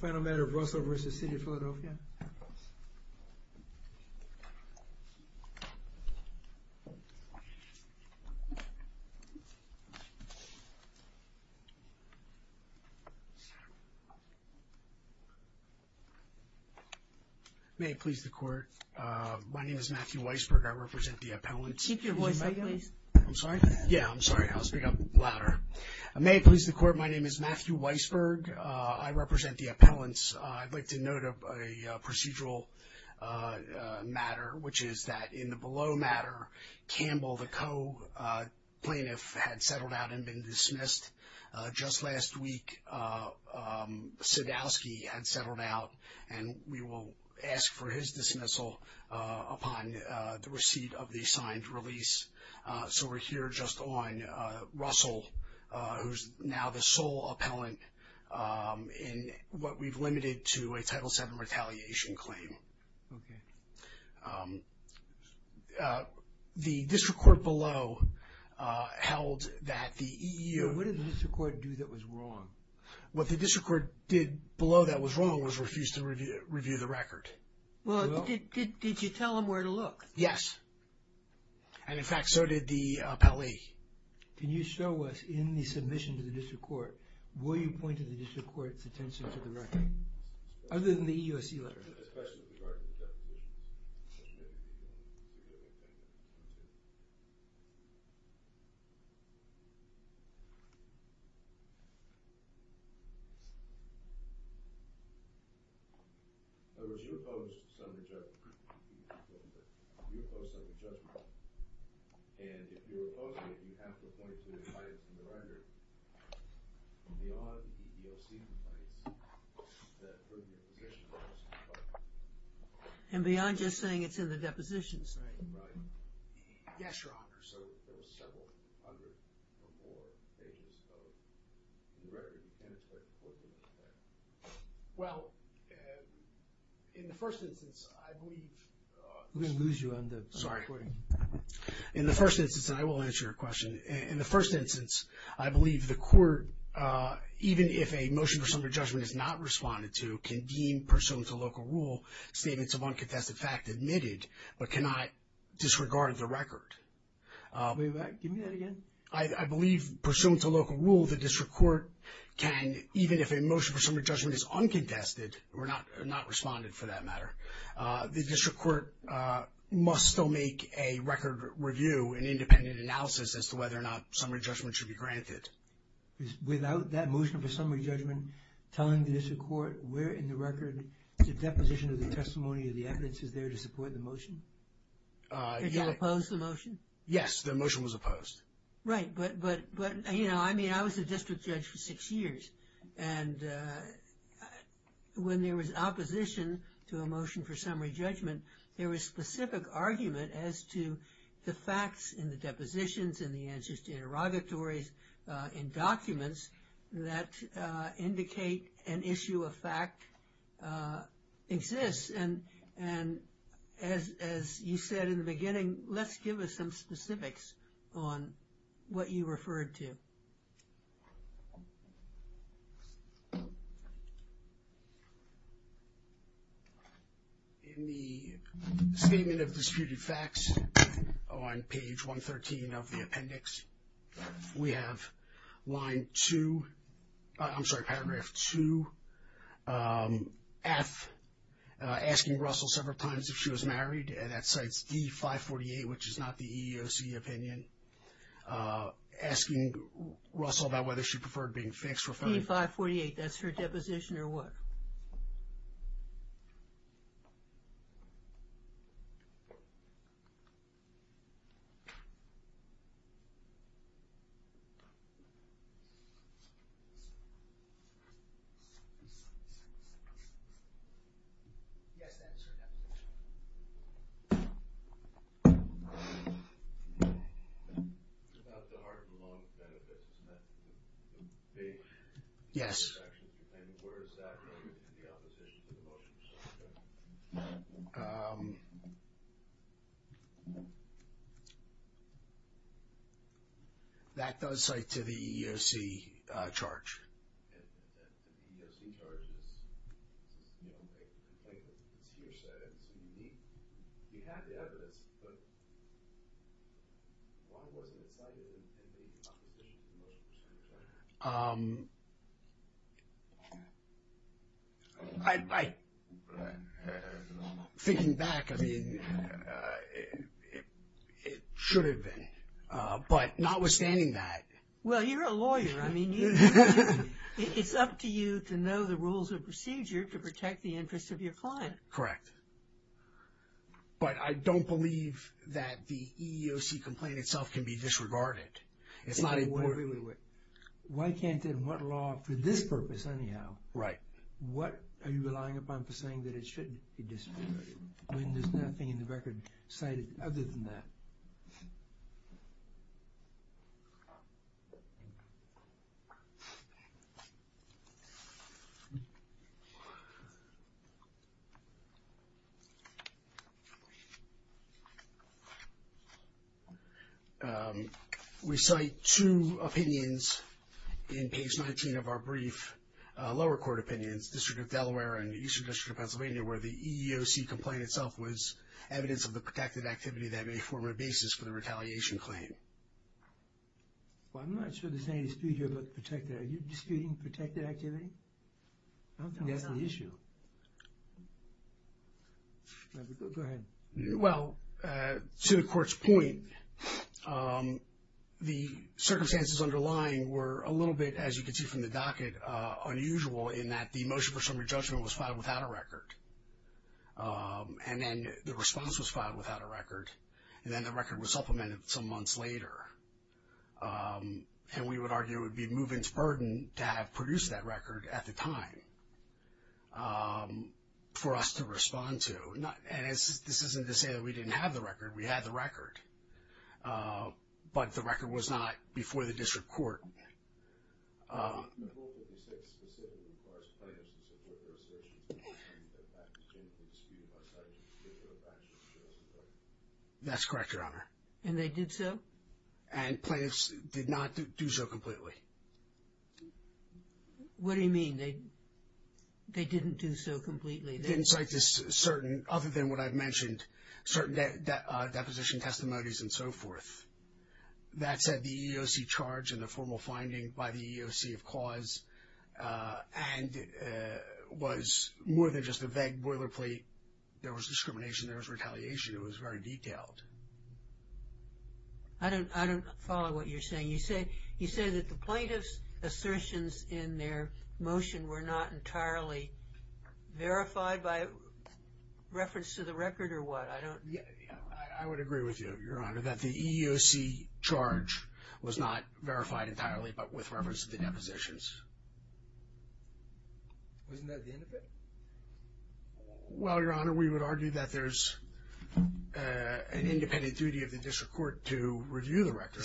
Final matter of Russell v. City of Philadelphia May it please the court my name is Matthew Weisberg I represent the appellant. Keep your voice up please. I'm sorry yeah I'm sorry I'll speak up louder. May it please the court my name is Matthew Weisberg I represent the appellants. I'd like to note of a procedural matter which is that in the below matter Campbell the co-plaintiff had settled out and been dismissed. Just last week Sadowski had settled out and we will ask for his dismissal upon the receipt of the signed release. So we're here just on Russell who's now the sole appellant in what we've limited to a Title VII retaliation claim. The district court below held that the EEO. What did the district court do that was wrong? What the district court did below that was wrong was refused to review the record. Well did you tell him where to look? Yes and in fact so did the appellee. Can you show us in the submission to the district court will you point to the district court's attention to the record other than the EEOC letter? And beyond just saying it's in the depositions? Well in the first instance I will answer your question. In the first instance I believe the court even if a motion for summary judgment is not responded to can deem pursuant to local rule statements of unconfessed fact admitted but cannot disregard the record. I believe pursuant to local rule the district court can even if a motion for summary judgment is uncontested or not not responded for that matter the district court must still make a record review an independent analysis as to whether or not summary judgment should be granted. Without that motion for summary judgment telling the district court where in the record the deposition of the testimony of the evidence is there to support the motion? Did you oppose the motion? Yes the motion was opposed. Right but but but you know I mean I was a district judge for six years and when there was opposition to a motion for summary judgment there was specific argument as to the facts in the depositions and the answers to interrogatories in documents that indicate an issue of fact exists and and as you said in the beginning let's give us some specifics on what you referred to. In the statement of disputed facts on page 113 of the appendix we have line 2 I'm sorry paragraph 2 F asking Russell several times if she was married and that cites D 548 which is not the EEOC opinion asking Russell about whether she preferred being fixed D 548 that's her deposition or what? Yes. That does cite to the EEOC charge. I'm thinking back I mean it should have been but notwithstanding that. Well you're a lawyer I mean it's up to you to know the rules of procedure to protect the interests of your client. Correct but I don't believe that the EEOC complaint itself can be disregarded. Why can't it what law for this purpose anyhow? Right. What are you relying upon for saying that it shouldn't be disregarded when there's nothing in the record cited other than that? We cite two opinions in page 19 of our brief lower court opinions District of Delaware and Eastern District of Pennsylvania where the EEOC complaint itself was evidence of the protected activity that may form a basis for the protected. Are you disputing protected activity? That's the issue. Well to the court's point the circumstances underlying were a little bit as you can see from the docket unusual in that the motion for summary judgment was filed without a record and then the response was filed without a record and then the would argue would be moving to burden to have produced that record at the time for us to respond to not and this isn't to say that we didn't have the record we had the record but the record was not before the district court. The court would have said specifically as far as plaintiffs and so forth, that that was going to be disputed by statute to get rid of that? That's correct your honor. And they did so? And plaintiffs did not do so completely. What do you mean they they didn't do so completely? They didn't cite this certain other than what I've mentioned certain that deposition testimonies and so forth that said the EEOC charge and the formal finding by the EEOC of cause and was more than just a vague boilerplate there was discrimination there was retaliation it was very detailed. I don't I don't follow what you're saying you say you say that the plaintiffs assertions in their motion were not entirely verified by reference to the record or what? I don't yeah I would agree with you your the EEOC charge was not verified entirely but with reference to the depositions. Well your honor we would argue that there's an independent duty of the district court to review the record.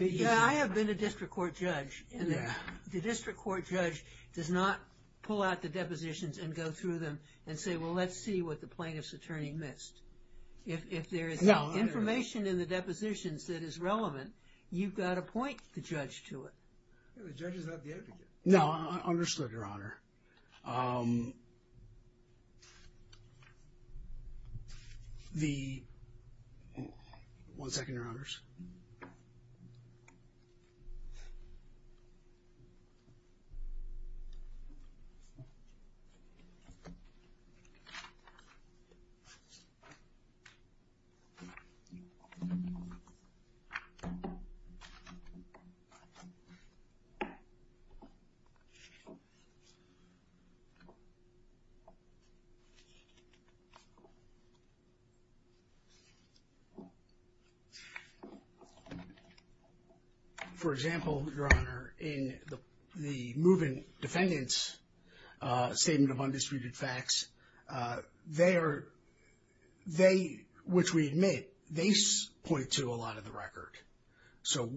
Yeah I have been a district court judge and the district court judge does not pull out the depositions and go through them and say well let's see what the plaintiff's attorney missed if there is information in the depositions that is relevant you've got a point to judge to it. No I understood your honor the one second your honors for example your honor in the moving defendants statement of undisputed facts they are they which we admit they point to a lot of the record so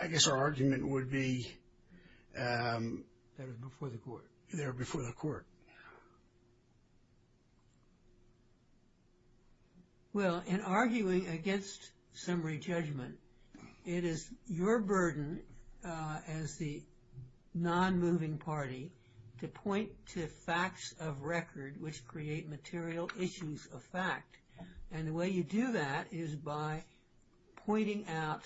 I guess our argument would be there before the court. Well in arguing against summary judgment it is your burden as the non-moving party to point to facts of record which create material issues of fact and the way you do that is by pointing out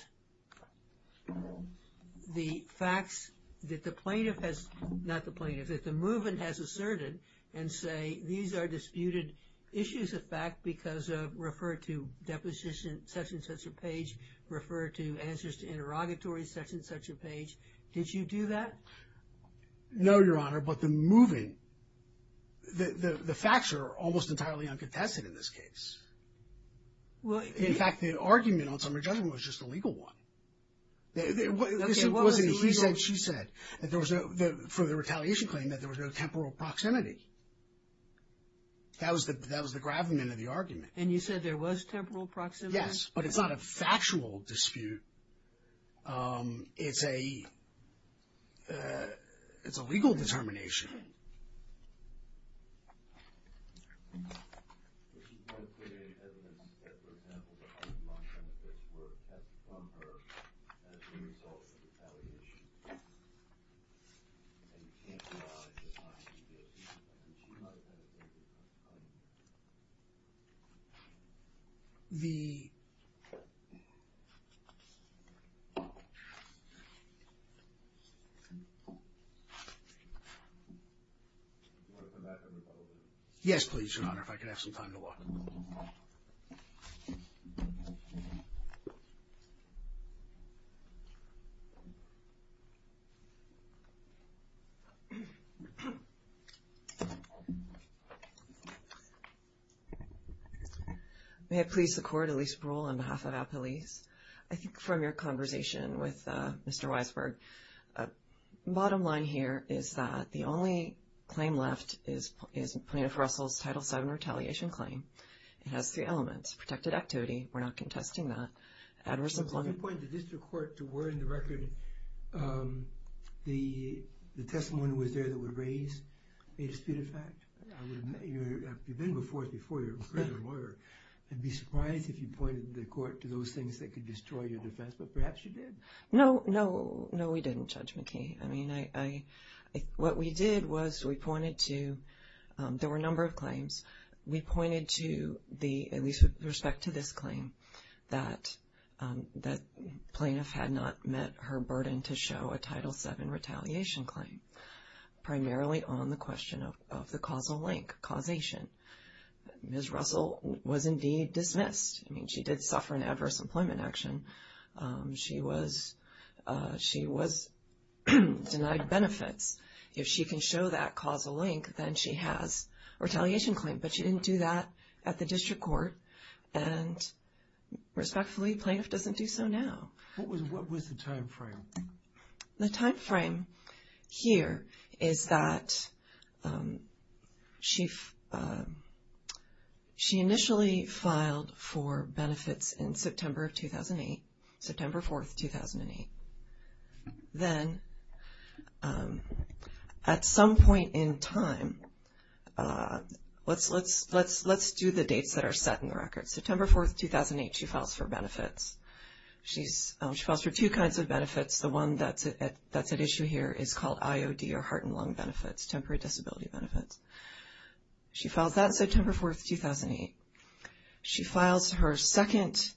the facts that the plaintiff has not the plaintiff that the movement has asserted and say these are disputed issues of fact because of referred to deposition such and such a page refer to answers to No your honor but the moving the facts are almost entirely uncontested in this case. Well in fact the argument on summary judgment was just a legal one she said that there was no further retaliation claim that there was no temporal proximity that was that that was the gravamen of the argument. And you said there was temporal proximity? Yes but it's not a factual dispute it's a it's a legal determination. Okay The Yes, please your honor if I could have some time to walk May I please the court at least parole on behalf of our police I think from your conversation with mr. Weisberg Bottom line here is that the only claim left is is plaintiff Russell's title 7 retaliation claim It has three elements protected activity. We're not contesting that Adversely point the district court to were in the record The the testimony was there that would raise a disputed fact And be surprised if you pointed the court to those things that could destroy your defense, but perhaps you did no no No, we didn't judge McKee. I mean I What we did was we pointed to? There were a number of claims. We pointed to the at least with respect to this claim that That plaintiff had not met her burden to show a title 7 retaliation claim Primarily on the question of the causal link causation Ms. Russell was indeed dismissed. I mean she did suffer an adverse employment action she was she was Denied benefits if she can show that causal link, then she has a retaliation claim, but she didn't do that at the district court and Respectfully plaintiff doesn't do so now The time frame here is that She She initially filed for benefits in September of 2008 September 4th 2008 then At some point in time Let's let's let's let's do the dates that are set in the record September 4th 2008 she files for benefits She's she falls for two kinds of benefits the one that's it That's an issue here is called IOD or heart and lung benefits temporary disability benefits She felt that September 4th 2008 She files her second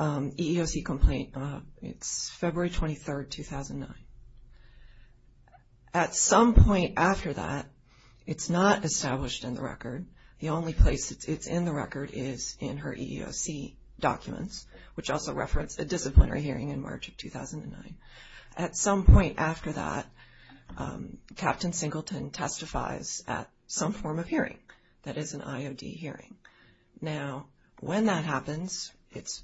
EEOC complaint, it's February 23rd 2009 At some point after that It's not established in the record. The only place it's in the record is in her EEOC Documents which also reference a disciplinary hearing in March of 2009 at some point after that Captain Singleton testifies at some form of hearing that is an IOD hearing now when that happens it's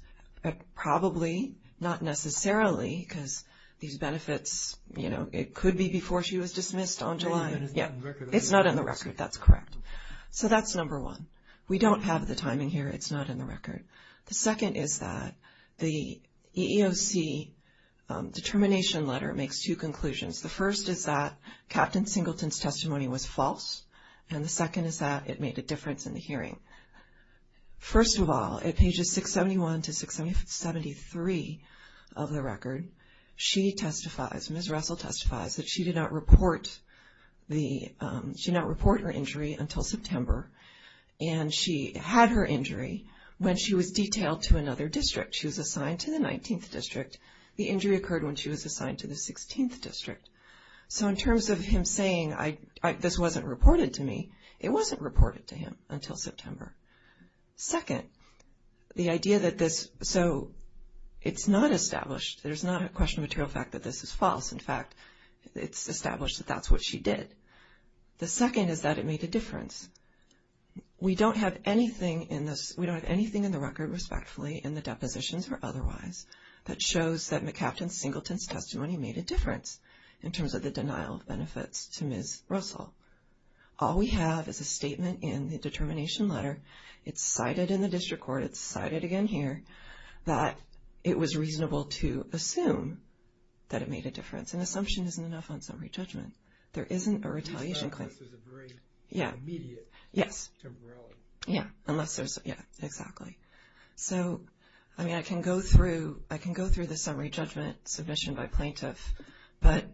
Probably not necessarily because these benefits, you know, it could be before she was dismissed on July Yeah, it's not in the record. That's correct. So that's number one. We don't have the timing here It's not in the record. The second is that the EEOC Determination letter makes two conclusions. The first is that Captain Singleton's testimony was false. And the second is that it made a difference in the hearing First of all at pages 671 to 673 of the record She testifies miss Russell testifies that she did not report the she not report her injury until September and She had her injury when she was detailed to another district She was assigned to the 19th district the injury occurred when she was assigned to the 16th district So in terms of him saying I this wasn't reported to me it wasn't reported to him until September second the idea that this so It's not established. There's not a question material fact that this is false. In fact, it's established that that's what she did The second is that it made a difference We don't have anything in this We don't have anything in the record respectfully in the depositions or otherwise That shows that McCaptain Singleton's testimony made a difference in terms of the denial of benefits to miss Russell All we have is a statement in the determination letter. It's cited in the district court. It's cited again here that It was reasonable to assume that it made a difference and assumption isn't enough on summary judgment. There isn't a retaliation Yeah, yes Yeah, unless there's yeah, exactly So, I mean I can go through I can go through the summary judgment submission by plaintiff, but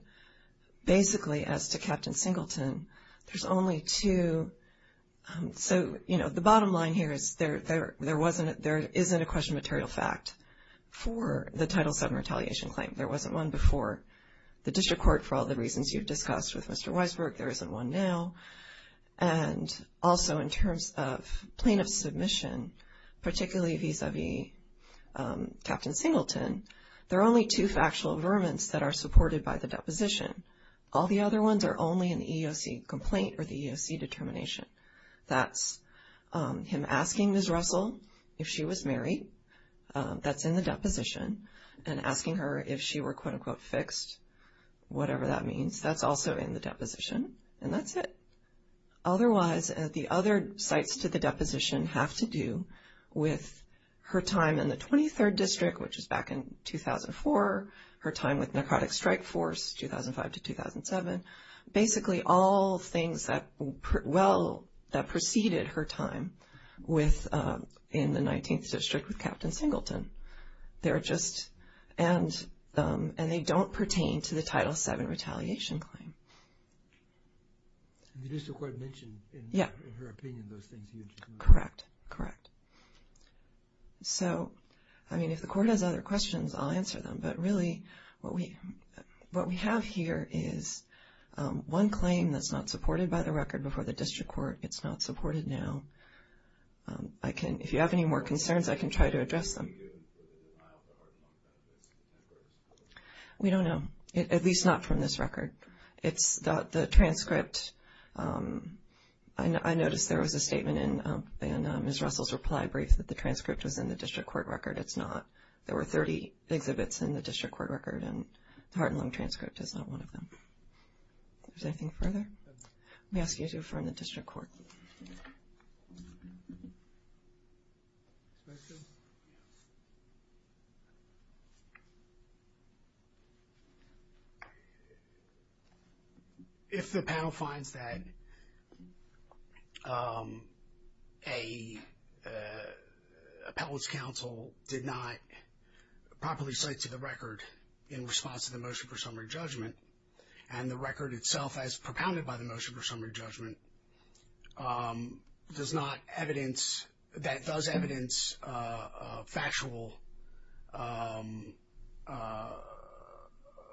basically as to Captain Singleton, there's only two So, you know the bottom line here is there there wasn't there isn't a question material fact For the title 7 retaliation claim there wasn't one before the district court for all the reasons you've discussed with. Mr. Weisberg. There isn't one now and Particularly vis-a-vis Captain Singleton, there are only two factual vermin that are supported by the deposition All the other ones are only an EEOC complaint or the EEOC determination. That's Him asking miss Russell if she was married That's in the deposition and asking her if she were quote-unquote fixed Whatever that means that's also in the deposition and that's it Otherwise at the other sites to the deposition have to do with her time in the 23rd district Which is back in 2004 her time with narcotic strike force 2005 to 2007 basically all things that Well that preceded her time with in the 19th district with Captain Singleton they're just and And they don't pertain to the title 7 retaliation claim The district court mentioned yeah Correct correct So, I mean if the court has other questions, I'll answer them but really what we what we have here is One claim that's not supported by the record before the district court. It's not supported now. I Can if you have any more concerns I can try to address them We Don't know at least not from this record. It's that the transcript I Noticed there was a statement in and miss Russell's reply brief that the transcript was in the district court record It's not there were 30 exhibits in the district court record and the heart and lung transcript is not one of them There's anything further We ask you to affirm the district court If The panel finds that a Appellate's counsel did not Properly cite to the record in response to the motion for summary judgment and the record itself as propounded by the motion for summary judgment Does not evidence that does evidence Factual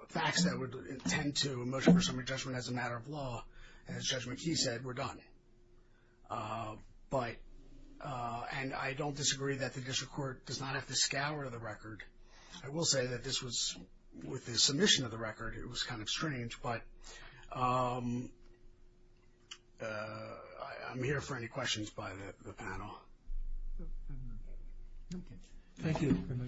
Facts that would intend to motion for summary judgment as a matter of law as judgment. He said we're done But And I don't disagree that the district court does not have to scour the record I will say that this was with the submission of the record. It was kind of strange but I'm here for any questions by the panel Okay, thank you